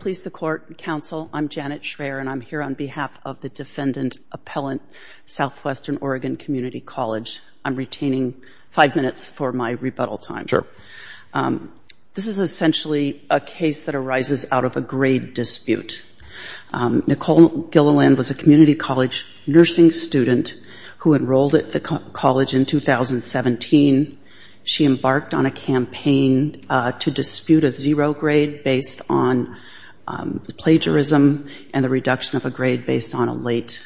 Please, the court, counsel, I'm Janet Schraer, and I'm here on behalf of the Defendant Appellant Southwestern Oregon Community College. I'm retaining five minutes for my rebuttal time. Sure. This is essentially a case that arises out of a grade dispute. Nicole Gililland was a community college nursing student who enrolled at the college in 2017. She embarked on a grade dispute based on plagiarism and the reduction of a grade based on a late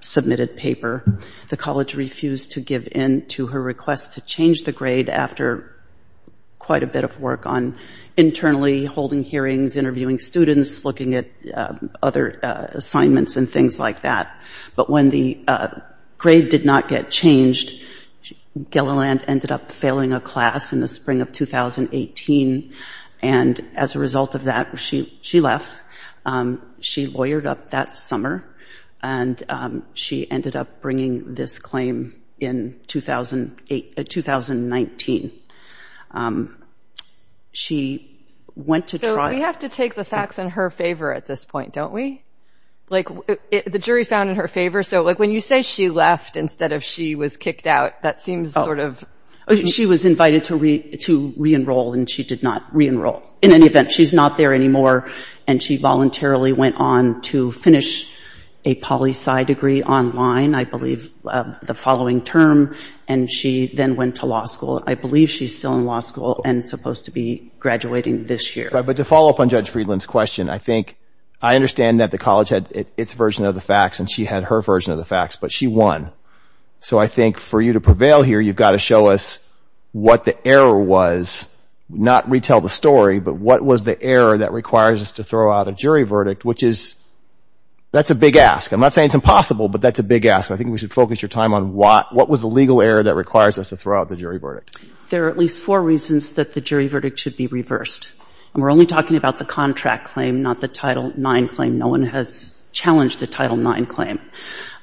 submitted paper. The college refused to give in to her request to change the grade after quite a bit of work on internally holding hearings, interviewing students, looking at other assignments and things like that. But when the grade did not get changed, Gililland ended up failing a class in the fall. As a result of that, she left. She lawyered up that summer and she ended up bringing this claim in 2019. She went to trial. So we have to take the facts in her favor at this point, don't we? Like the jury found in her favor. So like when you say she left instead of she was kicked out, that seems sort of... She was invited to re-enroll and she did not re-enroll. In any event, she's not there anymore. And she voluntarily went on to finish a poli-sci degree online, I believe, the following term. And she then went to law school. I believe she's still in law school and supposed to be graduating this year. But to follow up on Judge Friedland's question, I understand that the college had its version of the facts and she had her version of the facts, but she won. So I think for you to prevail here, you've got to show us what the error was. Not retell the story, but what was the error that requires us to throw out a jury verdict, which is... That's a big ask. I'm not saying it's impossible, but that's a big ask. I think we should focus your time on what was the legal error that requires us to throw out the jury verdict. There are at least four reasons that the jury verdict should be reversed. And we're only talking about the contract claim, not the Title IX claim. No one has challenged the Title IX claim.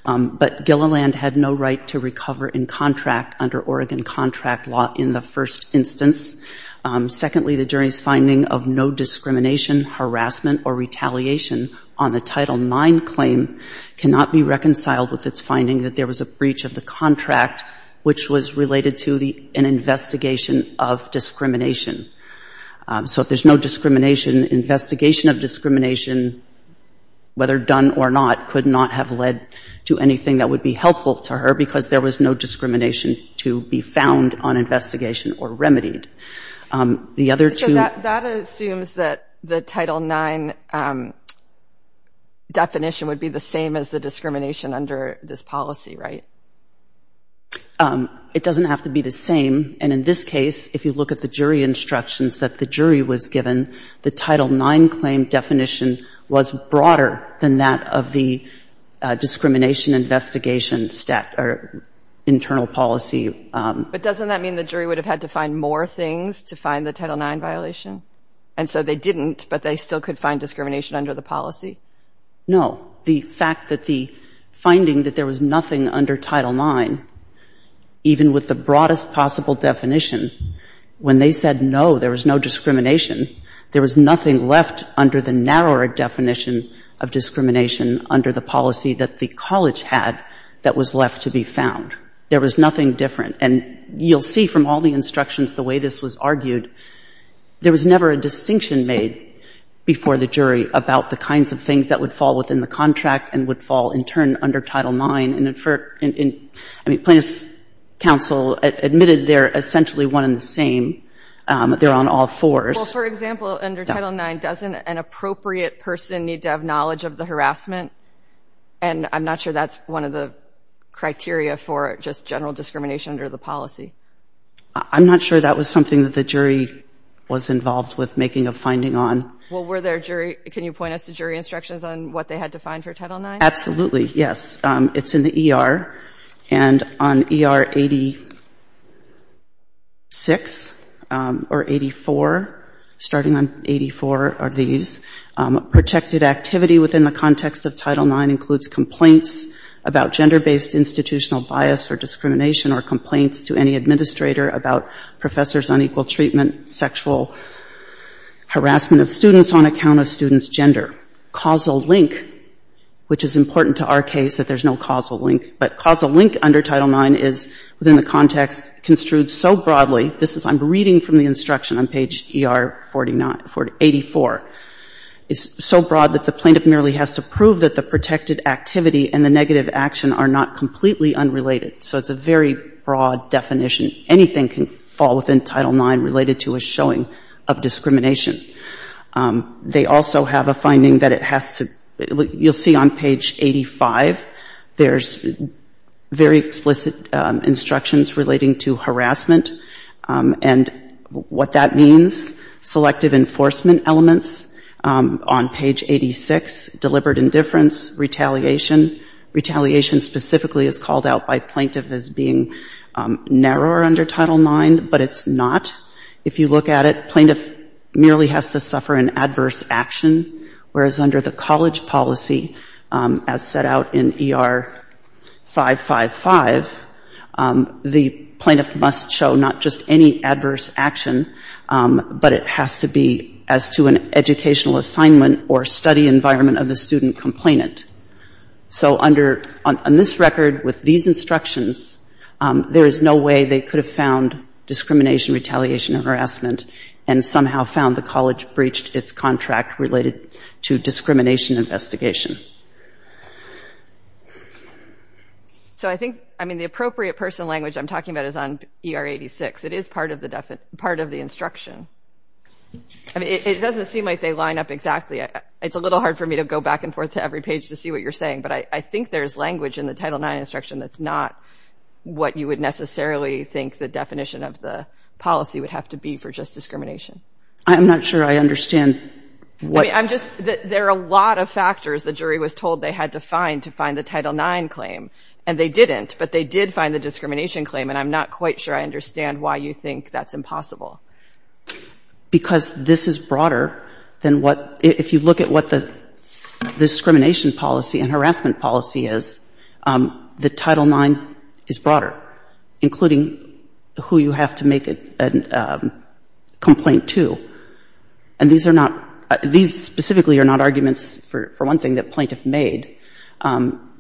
But Gilliland had no right to recover in contract under Oregon contract law in the first instance. Secondly, the jury's finding of no discrimination, harassment, or retaliation on the Title IX claim cannot be found on investigation of discrimination. So if there's no discrimination, investigation of discrimination, whether done or not, could not have led to anything that would be helpful to her because there was no discrimination to be found on investigation or remedied. The other two... So that assumes that the Title IX definition would be the same as the discrimination under this policy, right? It doesn't have to be the same. And in this case, if you look at the jury instructions that the jury was given, the Title IX claim definition was broader than that of the discrimination investigation internal policy. But doesn't that mean the jury would have had to find more things to find the Title IX violation? And so they didn't, but they still could find discrimination under the policy? No. The fact that the finding that there was a broadest possible definition, when they said no, there was no discrimination, there was nothing left under the narrower definition of discrimination under the policy that the college had that was left to be found. There was nothing different. And you'll see from all the instructions the way this was argued, there was never a distinction made before the jury about the kinds of things that would fall within the contract and would fall in turn under Title IX. I mean, Plaintiffs' Counsel admitted they're essentially one and the same. They're on all fours. Well, for example, under Title IX, doesn't an appropriate person need to have knowledge of the harassment? And I'm not sure that's one of the criteria for just general discrimination under the policy. I'm not sure that was something that the jury was involved with making Well, were there jury, can you point us to jury instructions on what they had to find for Title IX? Absolutely. Yes. It's in the E.R. And on E.R. 86 or 84, starting on 84 are these. Protected activity within the context of Title IX includes complaints about gender-based institutional bias or discrimination or complaints to any administrator about professors' unequal treatment, sexual harassment of students on account of students' gender. Causal link, which is important to our case that there's no causal link. But causal link under Title IX is within the context construed so broadly. This is, I'm reading from the instruction on page E.R. 49, 84. It's so broad that the plaintiff merely has to prove that the protected activity and the negative action are not completely unrelated. So it's a very broad definition. Anything can fall within Title IX related to a showing of discrimination. They also have a finding that it has to, you'll see on page 85, there's very explicit instructions relating to harassment. And what that means, selective enforcement elements. On page 86, deliberate indifference, retaliation. And then there's a very broad definition of retaliation. Retaliation specifically is called out by plaintiff as being narrower under Title IX, but it's not. If you look at it, the plaintiff merely has to suffer an adverse action, whereas under the college policy, as set out in E.R. 555, the plaintiff must show not just any adverse action, but it has to be as to an educational assignment or study environment of the student complainant. So a plaintiff must show under, on this record, with these instructions, there is no way they could have found discrimination, retaliation, or harassment and somehow found the college breached its contract related to discrimination investigation. So I think, I mean, the appropriate personal language I'm talking about is on E.R. 86. It is part of the instruction. I mean, it doesn't seem like they line up exactly. It's a little hard for me to go back and forth to every page to see what you're saying, but I think there's language in the Title IX instruction that's not what you would necessarily think the definition of the policy would have to be for just discrimination. I'm not sure I understand what you're saying. I mean, I'm just, there are a lot of factors. The jury was told they had to find to find the Title IX claim, and they didn't, but they did find the claim, and they found the claim. If you look at what the discrimination policy and harassment policy is, the Title IX is broader, including who you have to make a complaint to, and these are not, these specifically are not arguments, for one thing, that plaintiff made,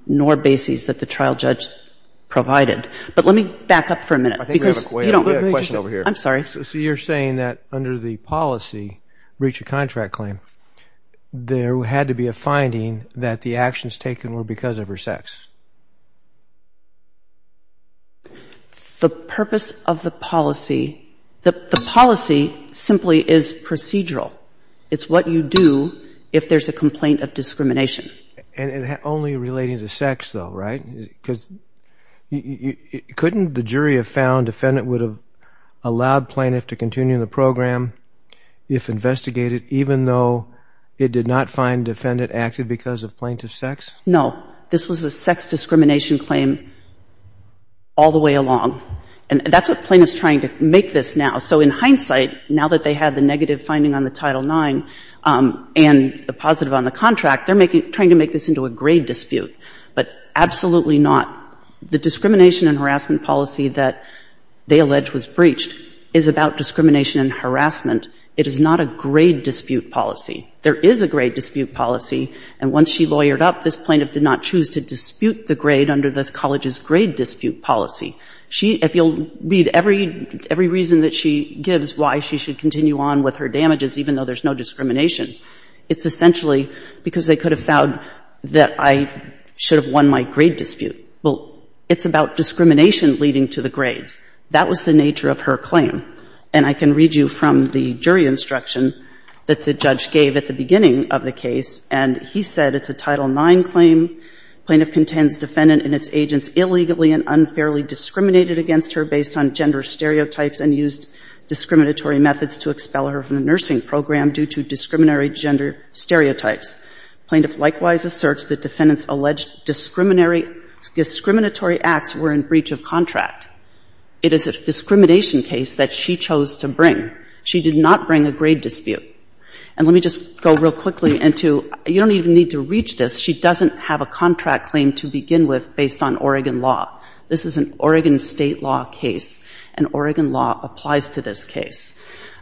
nor bases that the trial judge provided. But let me back up for a minute. I think we have a question over here. I'm sorry. So you're saying that under the policy, breach of contract claim, there had to be a finding that the actions taken were because of her sex? The purpose of the policy, the policy simply is procedural. It's what you do if there's a complaint of discrimination. And only relating to sex, though, right? Because couldn't the jury have found defendant would have allowed plaintiff to continue the program if investigated, even though it did not find defendant acted because of plaintiff's sex? No. This was a sex discrimination claim all the way along. And that's what plaintiff's trying to make this now. So in hindsight, now that they had the claim, they're trying to make this into a grade dispute, but absolutely not. The discrimination and harassment policy that they allege was breached is about discrimination and harassment. It is not a grade dispute policy. There is a grade dispute policy, and once she lawyered up, this plaintiff did not choose to dispute the grade under the college's grade dispute policy. She, if you'll read every, every reason that she gives why she should continue on with her damages, even though there's no discrimination, it's essentially because they could have found that I should have won my grade dispute. Well, it's about discrimination leading to the grades. That was the nature of her claim. And I can read you from the jury instruction that the judge gave at the beginning of the case, and he said it's a Title IX claim. Plaintiff contends defendant and its agents illegally and unfairly used discriminatory methods to expel her from the nursing program due to discriminatory gender stereotypes. Plaintiff likewise asserts that defendants' alleged discriminatory acts were in breach of contract. It is a discrimination case that she chose to bring. She did not bring a grade dispute. And let me just go real quickly into you don't even need to reach this. She doesn't have a contract claim to begin with based on Oregon law. This is an Oregon state law case, and Oregon law applies to this case.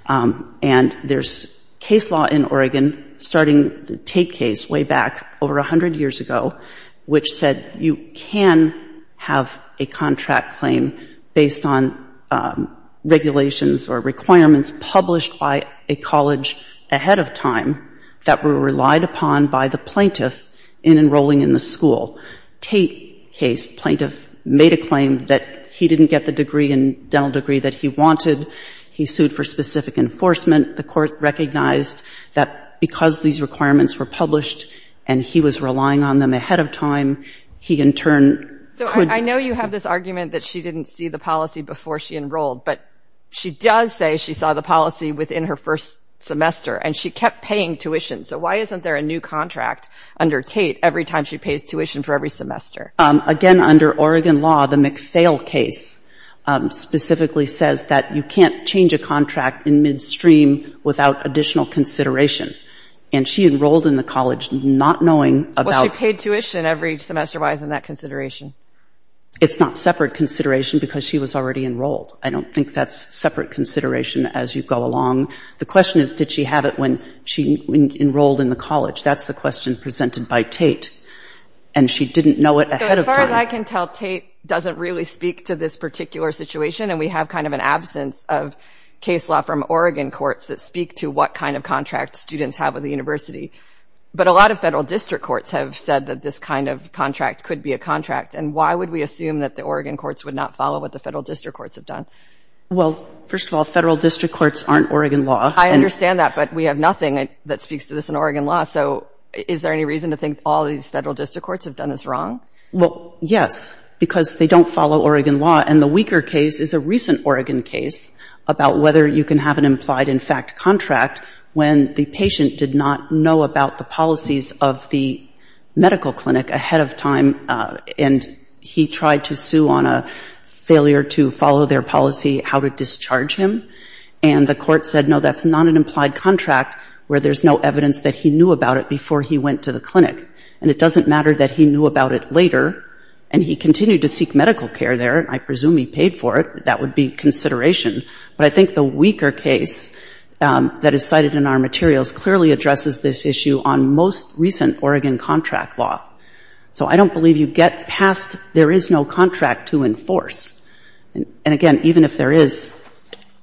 And there's case law in Oregon starting the Tate case way back over 100 years ago, which said you can have a contract claim based on regulations or requirements published by a college ahead of time that were in breach of contract. And the plaintiff made a claim that he didn't get the degree and dental degree that he wanted. He sued for specific enforcement. The court recognized that because these requirements were published and he was relying on them ahead of time, he in turn could be So I know you have this argument that she didn't see the policy before she enrolled, but she does say she saw the policy within her first semester, and she kept paying tuition. So why isn't there a new contract under Tate every time she pays tuition for every semester? Again, under Oregon law, the McPhail case specifically says that you can't change a contract in midstream without additional consideration. And she enrolled in the college not knowing about Well, she paid tuition every semester. Why isn't that consideration? It's not separate consideration because she was already enrolled. I don't think that's separate consideration as you go along. The question is, did she have it when she enrolled in the college? That's the question presented by Tate. And she didn't know it ahead of time. So as far as I can tell, Tate doesn't really speak to this particular situation, and we have kind of an absence of case law from Oregon courts that speak to what kind of contract students have with the university. But a lot of federal district courts have said that this kind of contract could be a contract. And why would we assume that the Oregon courts would not follow what the federal district courts have done? Well, first of all, federal district courts aren't Oregon law. I understand that, but we have nothing that speaks to this in Oregon law. So is there any reason to think all these federal district courts have done this wrong? Well, yes, because they don't follow Oregon law. And the weaker case is a recent Oregon case about whether you can have an implied in fact contract when the patient did not know about the policies of the medical clinic ahead of time, and he tried to sue on a failure to follow their policy how to discharge him. And the court said, no, that's not an implied contract where there's no evidence that he knew about it before he went to the clinic. And it doesn't matter that he knew about it later, and he continued to seek medical care there, and I presume he paid for it. That would be consideration. But I think the weaker case that is cited in our materials clearly addresses this issue on most recent Oregon contract law. So I don't believe you get past there is no contract to enforce. And, again, even if there is,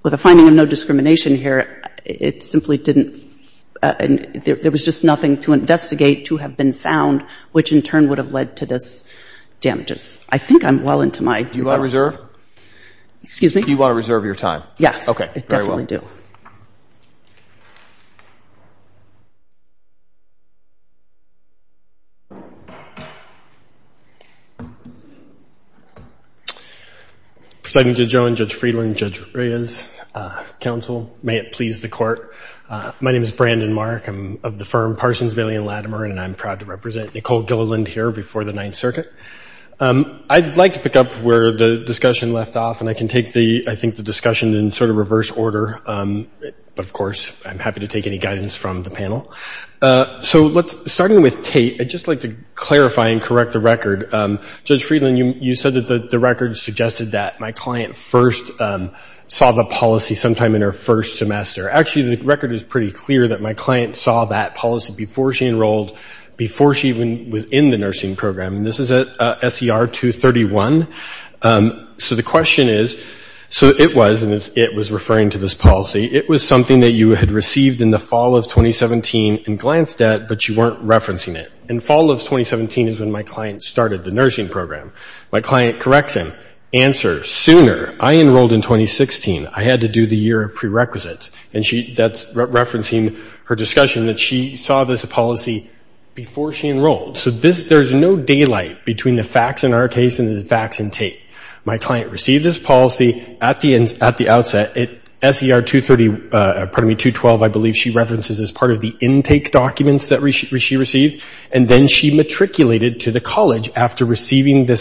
with the finding of no discrimination here, it simply didn't, there could be no reason to investigate, to have been found, which in turn would have led to this damages. I think I'm well into my... Do you want to reserve? Excuse me? Do you want to reserve your time? Yes. Okay. Very well. I definitely do. Presiding Judge Owen, Judge Friedland, Judge Reyes, counsel, may it please the Court. My name is Brandon Mark. I'm of the firm Parsons, Bailey & Latimer, and I'm proud to represent Nicole Gilliland here before the Ninth Circuit. I'd like to pick up where the discussion left off, and I can take the, I think, the discussion in sort of reverse order. But, of course, I'm happy to take any guidance from the panel. So let's, starting with Tate, I'd just like to clarify and correct the record. Judge Friedland, you said that the record suggested that my client first saw the policy sometime in her first semester. Actually, the record is pretty clear that my client saw that policy before she enrolled, before she even was in the nursing program. And this is at SER 231. So the question is, so it was, and it was referring to this policy, it was something that you had received in the fall of 2017 in Glandstedt, but you weren't referencing it. In fall of 2017 is when my client started the nursing program. My client corrects him. Answer, sooner. I enrolled in 2016. I had to do the year of prerequisites. And she, that's referencing her discussion that she saw this policy before she enrolled. So this, there's no daylight between the facts in our case and the facts in Tate. My client received this policy at the end, at the outset. At SER 230, pardon me, 212, I believe she references as part of the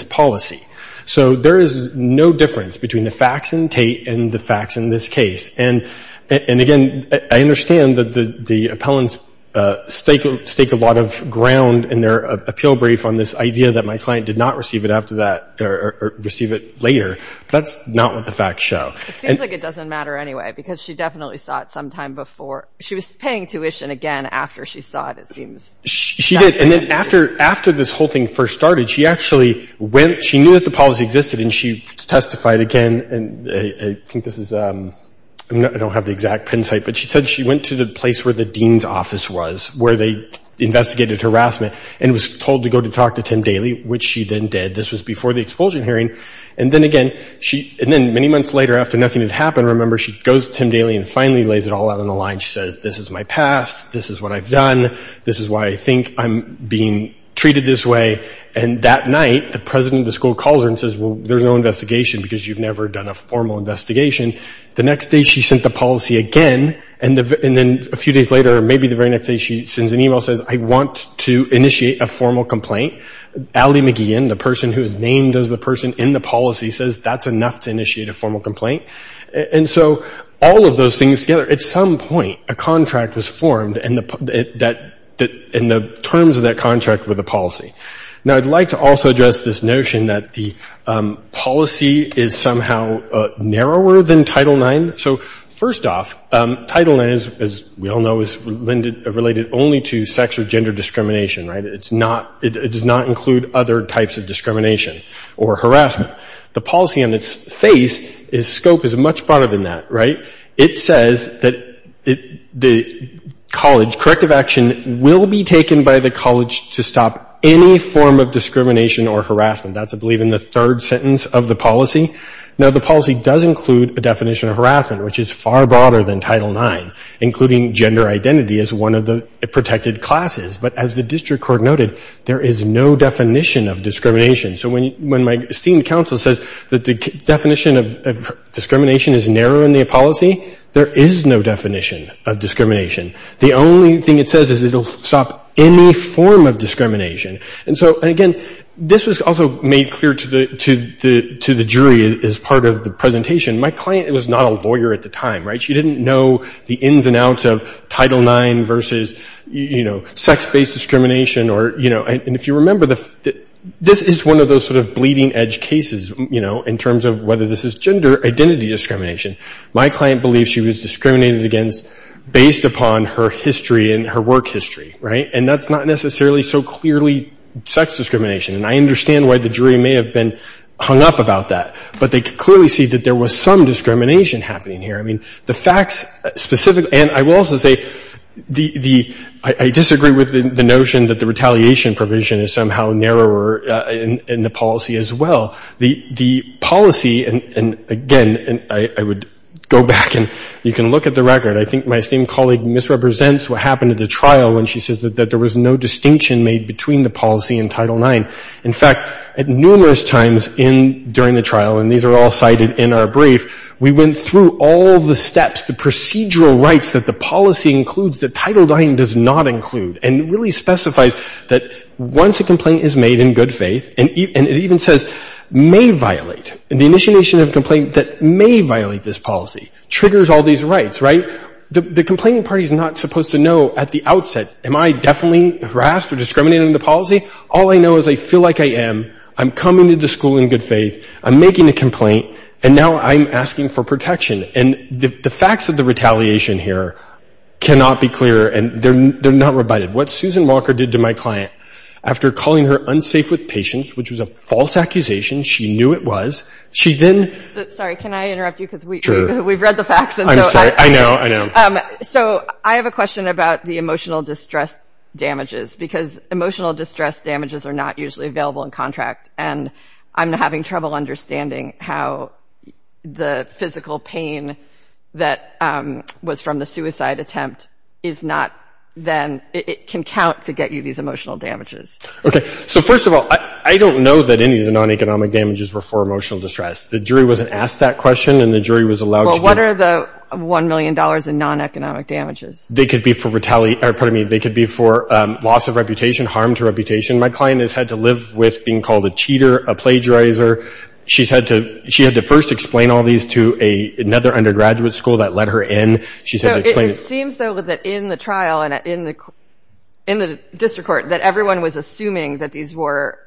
policy. So there is no difference between the facts in Tate and the facts in this case. And again, I understand that the appellants stake a lot of ground in their appeal brief on this idea that my client did not receive it after that, or receive it later. That's not what the facts show. It seems like it doesn't matter anyway, because she definitely saw it sometime before. She was paying tuition again after she saw it, it seems. She did. And then after this whole thing first started, she actually went, she knew that the policy existed, and she testified again. And I think this is, I don't have the exact pin site, but she said she went to the place where the dean's office was, where they investigated harassment, and was told to go to talk to Tim Daly, which she then did. This was before the expulsion hearing. And then again, and then many months later, after nothing had happened, remember, she goes to Tim Daly, and says, this is what I've passed. This is what I've done. This is why I think I'm being treated this way. And that night, the president of the school calls her and says, well, there's no investigation, because you've never done a formal investigation. The next day, she sent the policy again. And then a few days later, maybe the very next day, she sends an email and says, I want to initiate a formal complaint. Allie McGeehan, the person who is named as the person in the policy, says that's enough to initiate a formal complaint. And so all of those things together, at some point, a contract was formed, and the terms of that contract were the policy. Now, I'd like to also address this notion that the policy is somehow narrower than Title IX. So first off, Title IX, as we all know, is related only to sex or gender discrimination, right? It's not, it does not include other types of discrimination or harassment. The policy on its face, its scope is much broader than that, right? It says that the college, corrective action will be taken by the college to stop any form of discrimination or harassment. That's, I believe, in the third sentence of the policy. Now, the policy does include a definition of harassment, which is far broader than Title IX, including gender identity as one of the protected classes. But as the district court noted, there is no definition of discrimination. So when my esteemed counsel says that the definition of discrimination is narrow in the policy, there is no definition of discrimination. The only thing it says is it will stop any form of discrimination. And so, and again, this was also made clear to the jury as part of the presentation. My client was not a lawyer at the time, right? She didn't know the ins and outs of Title IX versus, you know, sex-based discrimination or, you know, and if you remember, this is one of those sort of bleeding-edge cases, you know, in terms of whether this is gender identity discrimination. My client believes she was discriminated against based upon her history and her work history, right? And that's not necessarily so clearly sex discrimination. And I understand why the jury may have been hung up about that. But they could clearly see that there was some discrimination happening here. I mean, the facts specifically, and I will also say the, I disagree with the notion that the retaliation provision is somehow narrower in the policy as well. The policy, and again, I would go back and you can look at the record. I think my esteemed colleague misrepresents what happened at the trial when she says that there was no distinction made between the policy and Title IX. In fact, at numerous times during the trial, and these are all cited in our brief, we went through all the steps, the procedural rights that the policy includes that Title IX does not include and really specifies that once a complaint is made in good faith, and it even says may violate, the initiation of a complaint that may violate this policy, triggers all these rights, right? The complaining party is not supposed to know at the outset, am I definitely harassed or discriminated in the policy? All I know is I feel like I am. I'm coming to the school in good faith. I'm making a complaint, and now I'm asking for protection. And the facts of the retaliation here cannot be clearer, and they're not rebutted. What Susan Walker did to my client after calling her unsafe with patience, which was a false accusation, she knew it was, she then... I read the facts. I'm sorry. I know, I know. So I have a question about the emotional distress damages, because emotional distress damages are not usually available in contract, and I'm having trouble understanding how the physical pain that was from the suicide attempt is not then, it can count to get you these emotional damages. Okay. So first of all, I don't know that any of the non-economic damages were for emotional distress. The jury wasn't asked that question, and the jury was allowed to... Well, what are the $1 million in non-economic damages? They could be for retaliation, or pardon me, they could be for loss of reputation, harm to reputation. My client has had to live with being called a cheater, a plagiarizer. She's had to, she had to first explain all these to another undergraduate school that let her in. She said to explain... So it seems though that in the trial and in the district court that everyone was assuming that these were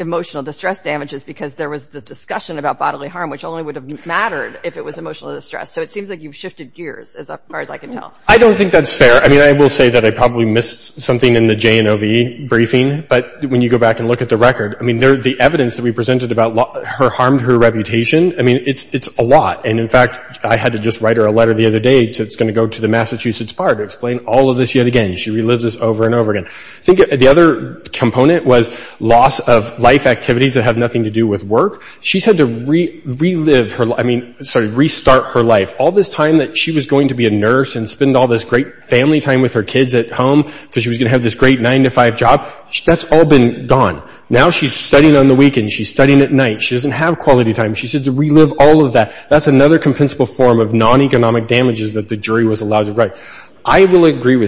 emotional distress damages because there was the discussion about bodily harm, which only would have mattered if it was emotional distress. So it seems like you've shifted gears, as far as I can tell. I don't think that's fair. I mean, I will say that I probably missed something in the J&OV briefing, but when you go back and look at the record, I mean, the evidence that we presented about her harmed her reputation, I mean, it's a lot. And in fact, I had to just write her a letter the other day that's going to go to the Massachusetts Bar to explain all of this yet again. She relives this over and over again. I think the other component was loss of life activities that have nothing to do with work. She's had to relive her, I mean, sorry, restart her life. All this time that she was going to be a nurse and spend all this great family time with her kids at home because she was going to have this great nine-to-five job, that's all been gone. Now she's studying on the weekends. She's studying at night. She doesn't have quality time. She's had to relive all of that. That's another compensable form of non-economic damages that the jury was able to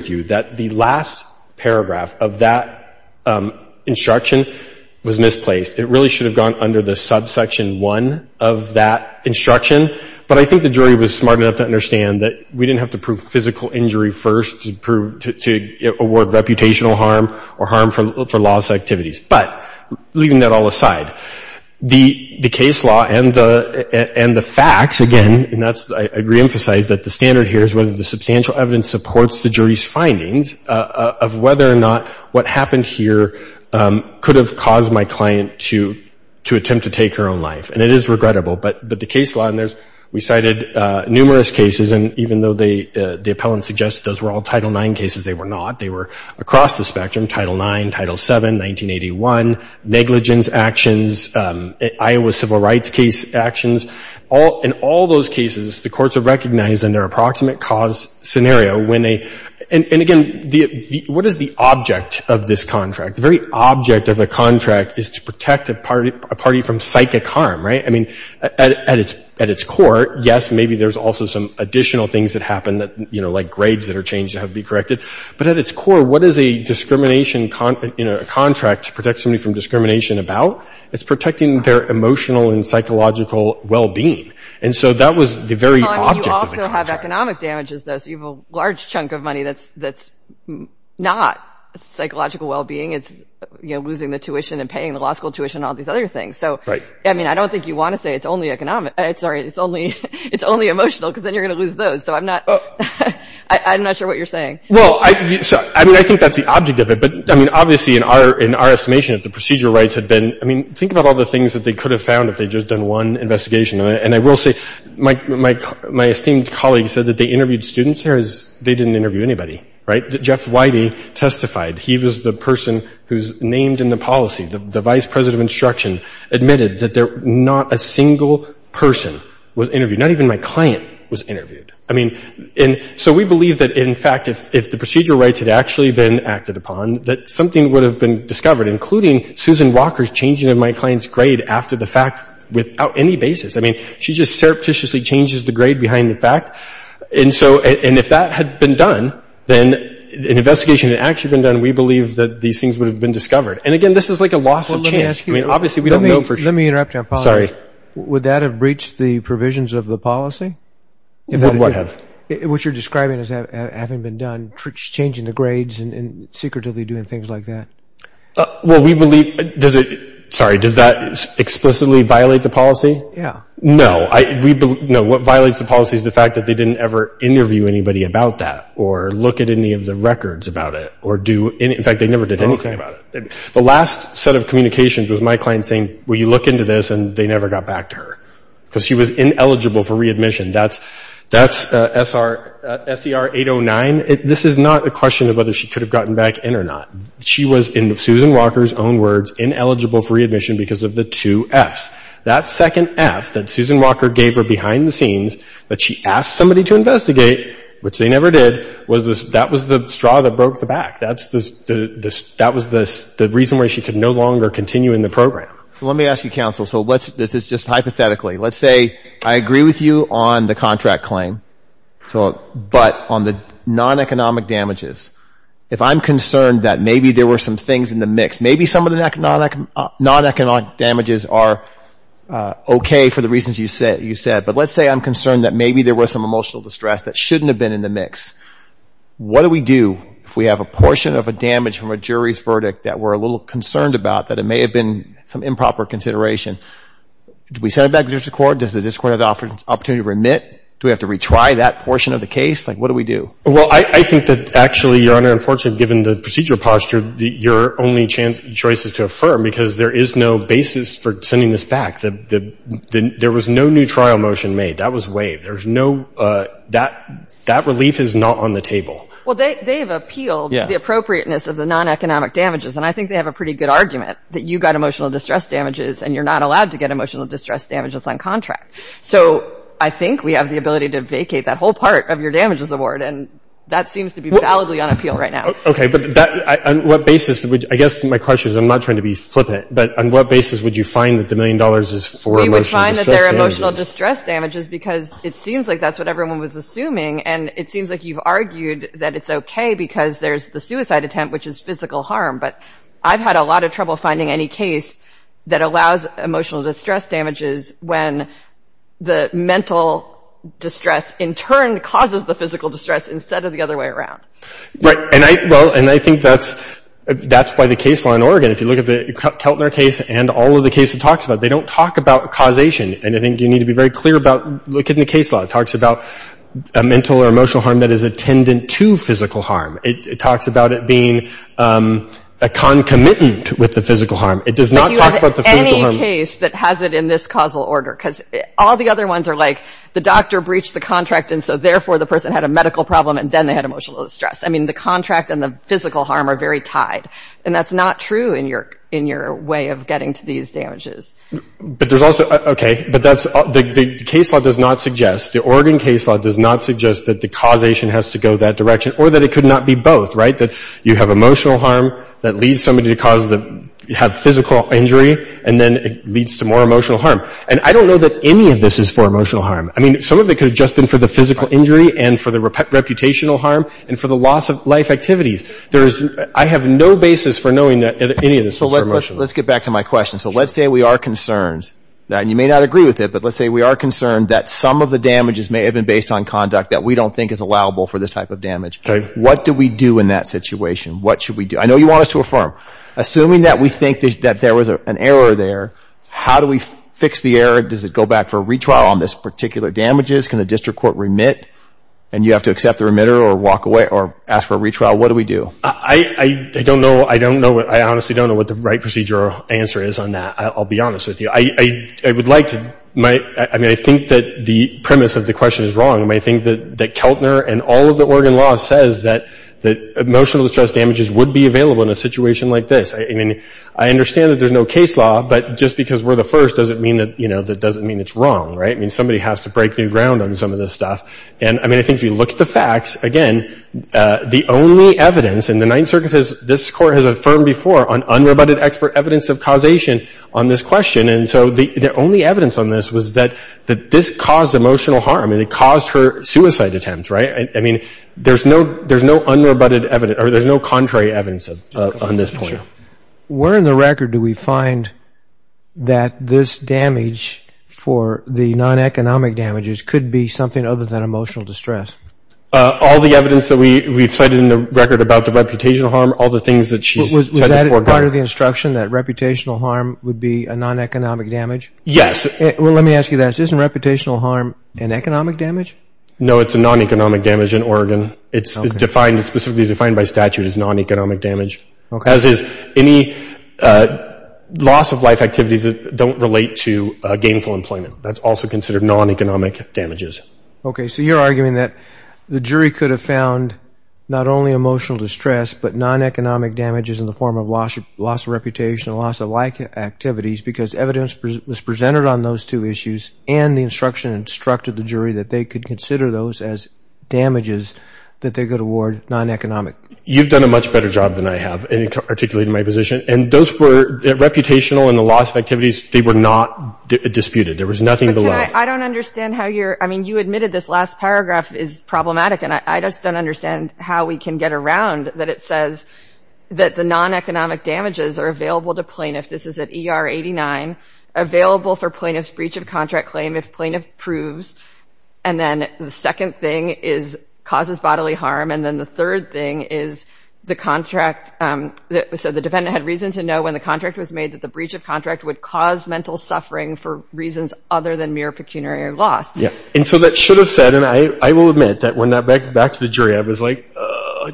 do. The last paragraph of that instruction was misplaced. It really should have gone under the subsection 1 of that instruction, but I think the jury was smart enough to understand that we didn't have to prove physical injury first to award reputational harm or harm for loss of activities. But leaving that all aside, the case law and the facts, again, and I reemphasize that the standard here is that the substantial evidence supports the jury's findings of whether or not what happened here could have caused my client to attempt to take her own life. And it is regrettable. But the case law, and we cited numerous cases, and even though the appellant suggested those were all Title IX cases, they were not. They were across the spectrum, Title IX, Title VII, 1981, negligence actions, Iowa civil rights case actions. In all those cases, the courts have recognized in their approximate cause scenario when they, and again, what is the object of this contract? The very object of a contract is to protect a party from psychic harm, right? I mean, at its core, yes, maybe there's also some additional things that happen that, you know, like grades that are changed that have to be corrected, but at its core, what is a discrimination, you know, a contract to protect somebody from discrimination about? It's protecting their emotional and psychological well-being. And so that was the very object of the contract. Well, I mean, you also have economic damages, though, so you have a large chunk of money that's not psychological well-being. It's, you know, losing the tuition and paying the law school tuition and all these other things. So, I mean, I don't think you want to say it's only emotional, because then you're going to lose those. So I'm not sure what you're saying. Well, I mean, I think that's the object of it. But, I mean, obviously, in our estimation, if the procedure rights had been, I mean, think about all the things that they could have found if they'd just done one investigation. And I will say, my esteemed colleague said that they interviewed students. They didn't interview anybody, right? Jeff Whitey testified. He was the person who's named in the policy. The vice president of instruction admitted that not a single person was interviewed. Not even my client was interviewed. I mean, and so we believe that, in fact, if the procedure rights had actually been acted upon, that something would have been discovered, including Susan Walker's changing of my client's grade after the fact without any basis. I mean, she just surreptitiously changes the grade behind the fact. And so, and if that had been done, then an investigation had actually been done, we believe that these things would have been discovered. And, again, this is like a loss of chance. I mean, obviously, we don't know for sure. Let me interrupt you on policy. Sorry. Would that have breached the provisions of the policy? What have? What you're describing as having been done, changing the grades and secretively doing things like that. Well, we believe, does it, sorry, does that explicitly violate the policy? Yeah. No. No, what violates the policy is the fact that they didn't ever interview anybody about that or look at any of the records about it or do, in fact, they never did anything about it. The last set of communications was my client saying, will you look into this? And they never got back to her because she was ineligible for readmission. That's, that's SER 809. This is not a question of whether she could have gotten back in or not. She was, in Susan Walker's own words, ineligible for readmission because of the two Fs. That second F that Susan Walker gave her behind the scenes that she asked somebody to investigate, which they never did, was this, that was the straw that broke the back. That's the, that was the reason why she could no longer continue in the program. Let me ask you, counsel, so let's, this is just hypothetically, let's say I agree with you on the contract claim, so, but on the non-economic damages. If I'm concerned that maybe there were some things in the mix, maybe some of the non-economic damages are okay for the reasons you said, but let's say I'm concerned that maybe there was some emotional distress that shouldn't have been in the mix. What do we do if we have a portion of a damage from a jury's verdict that we're a little concerned about, that it may have been some improper consideration? Do we send it back to the district court? Does the district court have the opportunity to remit? Do we have to retry that portion of the case? Like, what do we do? Well, I think that actually, Your Honor, unfortunately, given the procedure posture, your only choice is to affirm, because there is no basis for sending this back. There was no new trial motion made. That was waived. There's no, that relief is not on the table. Well, they have appealed the appropriateness of the non-economic damages, and I think they have a pretty good argument that you've got emotional distress damages, and you're not allowed to get emotional distress damages on contract. So I think we have the ability to vacate that whole part of your damages award, and that seems to be validly on appeal right now. Okay, but on what basis would you, I guess my question is, I'm not trying to be flippant, but on what basis would you find that the million dollars is for emotional distress damages? We would find that they're emotional distress damages, because it seems like that's what everyone was assuming, and it seems like you've argued that it's okay, because there's the suicide attempt, which is physical harm. But I've had a lot of trouble finding any case that allows emotional distress damages when the mental distress, in turn, causes the physical distress instead of the other way around. Right, and I, well, and I think that's why the case law in Oregon, if you look at the Keltner case and all of the cases it talks about, they don't talk about causation, and I think you need to be very clear about, look in the case law. It talks about a mental or emotional harm that is attendant to physical harm. It talks about it being a concomitant with the physical harm. But do you have any case that has it in this causal order? Because all the other ones are like, the doctor breached the contract, and so therefore the person had a medical problem, and then they had emotional distress. I mean, the contract and the physical harm are very tied. And that's not true in your way of getting to these damages. But there's also, okay, but that's, the case law does not suggest, the Oregon case law does not suggest that the causation has to go that direction, or that it could not be both, right? That you have emotional harm that leads somebody to have physical injury, and then it leads to more emotional harm. And I don't know that any of this is for emotional harm. I mean, some of it could have just been for the physical injury and for the reputational harm, and for the loss of life activities. I have no basis for knowing that any of this is for emotional harm. So let's get back to my question. So let's say we are concerned, and you may not agree with it, but let's say we are concerned that some of the damages may have been based on conduct that we don't think is allowable for this type of damage. What do we do in that situation? What should we do? I know you want us to affirm. Assuming that we think that there was an error there, how do we fix the error? Does it go back for a retrial on this particular damages? Can the district court remit? And you have to accept the remitter or ask for a retrial? What do we do? I honestly don't know what the right procedure or answer is on that. I'll be honest with you. I would like to, I mean, I think that the premise of the question is wrong. I think that Keltner and all of the Oregon law says that emotional distress damages would be available in a situation like this. I mean, I understand that there's no case law, but just because we're the first doesn't mean that, you know, that doesn't mean it's wrong, right? I mean, somebody has to break new ground on some of this stuff. And, I mean, I think if you look at the facts, again, the only evidence, and the Ninth Circuit has, this court has affirmed before on unrebutted expert evidence of causation on this question. And so the only evidence on this was that this caused emotional harm. And it caused her suicide attempt, right? I mean, there's no unrebutted evidence, or there's no contrary evidence on this point. Where in the record do we find that this damage for the non-economic damages could be something other than emotional distress? All the evidence that we've cited in the record about the reputational harm, all the things that she's said before. Was that part of the instruction, that reputational harm would be a non-economic damage? Yes. Well, let me ask you this. Isn't reputational harm an economic damage? No, it's a non-economic damage in Oregon. It's specifically defined by statute as non-economic damage. As is any loss of life activities that don't relate to gainful employment. That's also considered non-economic damages. Okay. So you're arguing that the jury could have found not only emotional distress, but non-economic damages in the form of loss of reputation, loss of life activities, because evidence was presented on those two issues, and the instruction instructed the jury that they could consider those as damages that they could award non-economic. You've done a much better job than I have in articulating my position. And those were, reputational and the loss of activities, they were not disputed. There was nothing below. I don't understand how you're, I mean, you admitted this last paragraph is problematic, and I just don't understand how we can get around that it says that the non-economic damages are available to plaintiffs. This is at ER 89. Available for plaintiff's breach of contract claim if plaintiff proves. And then the second thing is causes bodily harm. And then the third thing is the contract, so the defendant had reason to know when the contract was made that the breach of contract would cause mental suffering for reasons other than mere pecuniary loss. Yeah. And so that should have said, and I will admit that when that, back to the jury, I was like,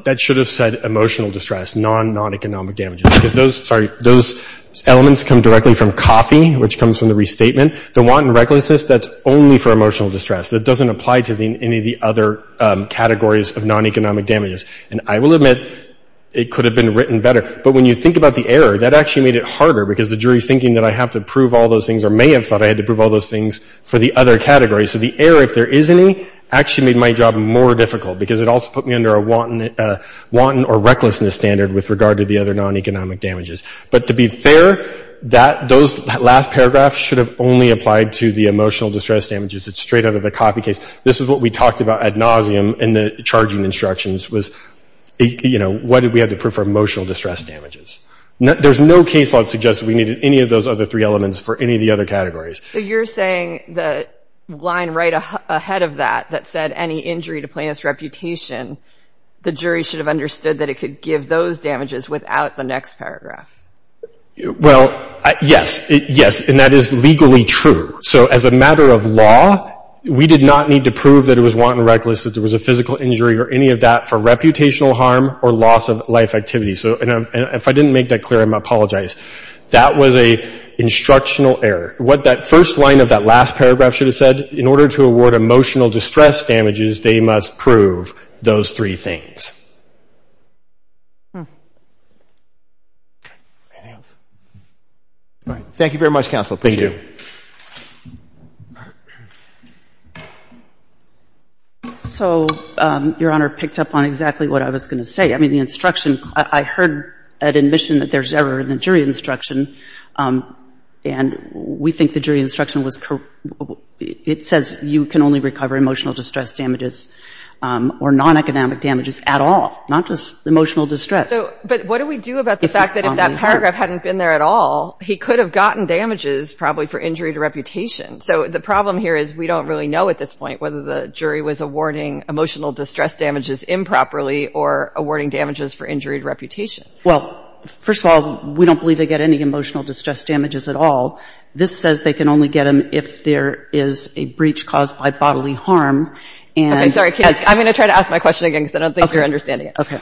that should have said emotional distress, non-non-economic damages. Because those, sorry, those elements come directly from coffee, which comes from the restatement. The wanton recklessness, that's only for emotional distress. That doesn't apply to any of the other categories of non-economic damages. And I will admit it could have been written better. But when you think about the error, that actually made it harder because the jury's thinking that I have to prove all those things or may have thought I had to prove all those things for the other category. So the error, if there is any, actually made my job more difficult because it also put me under a wanton or recklessness standard with regard to the other non-economic damages. But to be fair, that last paragraph should have only applied to the emotional distress damages. It's straight out of the coffee case. This is what we talked about ad nauseum in the charging instructions was, you know, why did we have to prove for emotional distress damages? There's no case law that suggests we needed any of those other three elements for any of the other categories. So you're saying the line right ahead of that, that said any injury to plaintiff's reputation, the jury should have understood that it could give those damages without the next paragraph. Well, yes. Yes. And that is legally true. So as a matter of law, we did not need to prove that it was wanton recklessness, that there was a physical injury or any of that for reputational harm or loss of life activity. And if I didn't make that clear, I apologize. That was an instructional error. What that first line of that last paragraph should have said, in order to award emotional distress damages, they must prove those three things. Okay. Anything else? All right. Thank you very much, Counsel. Thank you. So, Your Honor, picked up on exactly what I was going to say. I mean, the instruction, I heard an admission that there's error in the jury instruction, and we think the jury instruction was correct. It says you can only recover emotional distress damages or non-economic damages at all, not just emotional distress. But what do we do about the fact that if that paragraph hadn't been there at all, he could have gotten damages, probably, for injury to reputation? So the problem here is we don't really know at this point whether the jury was awarding emotional distress damages improperly or awarding damages for injury to reputation. Well, first of all, we don't believe they get any emotional distress damages at all. This says they can only get them if there is a breach caused by bodily harm. Okay. Sorry. I'm going to try to ask my question again because I don't think you're understanding it.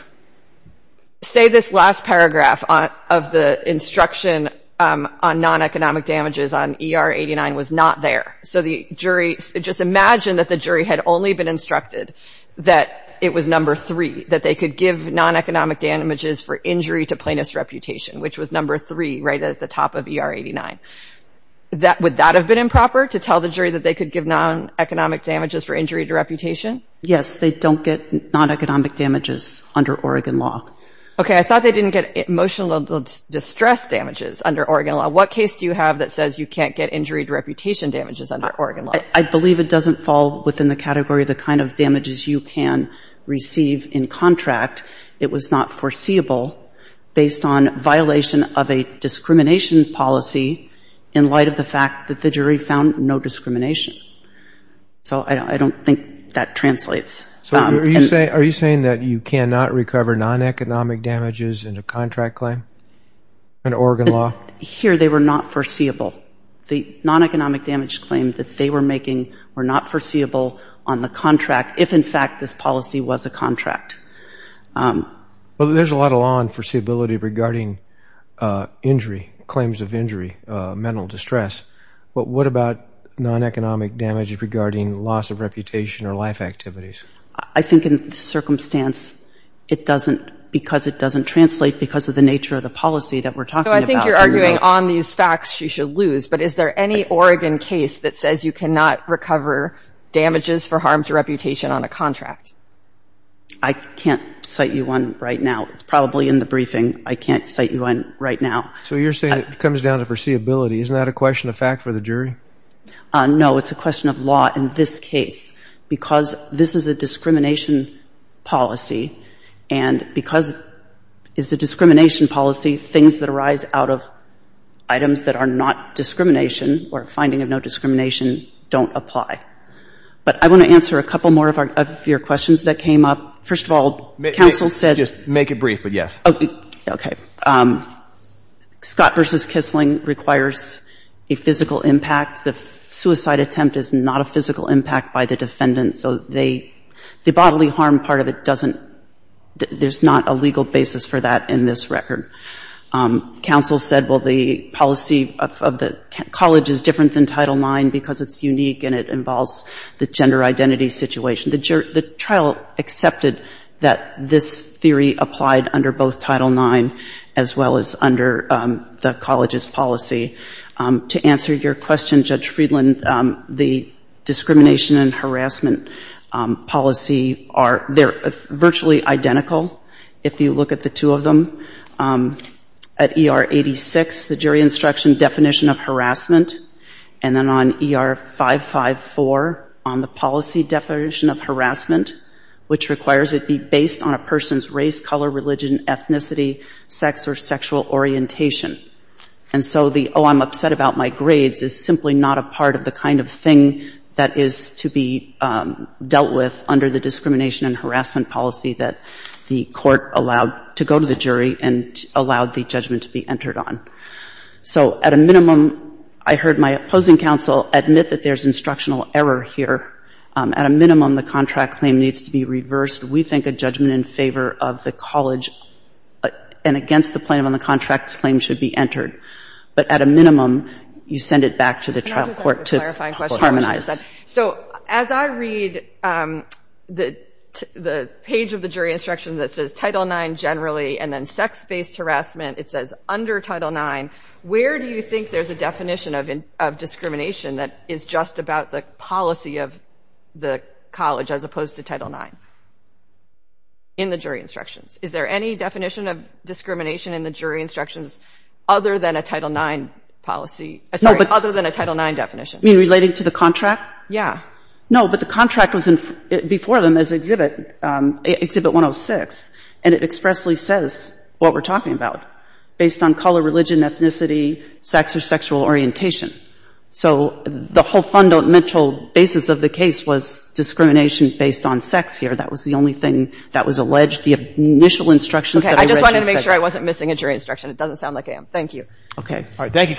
Say this last paragraph of the instruction on non-economic damages on ER 89 was not there. So just imagine that the jury had only been instructed that it was number 3, that they could give non-economic damages for injury to plaintiff's reputation, which was number 3, right at the top of ER 89. Would that have been improper, to tell the jury that they could give non-economic damages for injury to reputation? Yes. They don't get non-economic damages under Oregon law. Okay. I thought they didn't get emotional distress damages under Oregon law. What case do you have that says you can't get injury to reputation damages under Oregon law? I believe it doesn't fall within the category of the kind of damages you can receive in contract. It was not foreseeable based on violation of a discrimination policy in light of the fact that the jury found no discrimination. So I don't think that translates. So are you saying that you cannot recover non-economic damages in a contract claim under Oregon law? Here, they were not foreseeable. The non-economic damage claim that they were making were not foreseeable on the contract, if, in fact, this policy was a contract. Well, there's a lot of law on foreseeability regarding injury, claims of injury, mental distress. But what about non-economic damages regarding loss of reputation or life activities? I think in this circumstance it doesn't, because it doesn't translate because of the nature of the policy that we're talking about. So I think you're arguing on these facts she should lose. But is there any Oregon case that says you cannot recover damages for harm to reputation on a contract? I can't cite you one right now. It's probably in the briefing. I can't cite you one right now. So you're saying it comes down to foreseeability. Isn't that a question of fact for the jury? No, it's a question of law in this case. Because this is a discrimination policy and because it's a discrimination policy, things that arise out of items that are not discrimination or a finding of no discrimination don't apply. But I want to answer a couple more of your questions that came up. First of all, counsel said... Scott v. Kissling requires a physical impact. The suicide attempt is not a physical impact by the defendant. So the bodily harm part of it doesn't... there's not a legal basis for that in this record. Counsel said, well, the policy of the college is different than Title IX because it's unique and it involves the gender identity situation. The trial accepted that this theory applied under both Title IX as well as under the college's policy. To answer your question, Judge Friedland, the discrimination and harassment policy are virtually identical if you look at the two of them. At ER 86, the jury instruction definition of harassment and then on ER 554 on the policy definition of harassment which requires it be based on a person's race, color, religion, ethnicity, sex or sexual orientation. And so the, oh, I'm upset about my grades is simply not a part of the kind of thing that is to be dealt with under the discrimination and harassment policy that the court allowed to go to the jury and allowed the judgment to be entered on. So at a minimum, I heard my opposing counsel admit that there's instructional error here. At a minimum, the contract claim needs to be reversed. We think a judgment in favor of the college and against the plaintiff on the contract claim should be entered. But at a minimum, you send it back to the trial court to harmonize. So as I read the page of the jury instruction that says Title IX generally and then sex-based harassment, it says under Title IX where do you think there's a definition of discrimination that is just about the policy of the college as opposed to Title IX in the jury instructions? Is there any definition of discrimination in the jury instructions other than a Title IX definition? You mean relating to the contract? Yeah. No, but the contract was before them as Exhibit 106 and it expressly says what we're talking about based on color, religion, ethnicity, sex or sexual orientation. So the whole fundamental basis of the case was discrimination based on sex here. That was the only thing that was alleged. The initial instructions that I read. I just wanted to make sure I wasn't missing a jury instruction. It doesn't sound like I am. Thank you. Thank you, Counsel.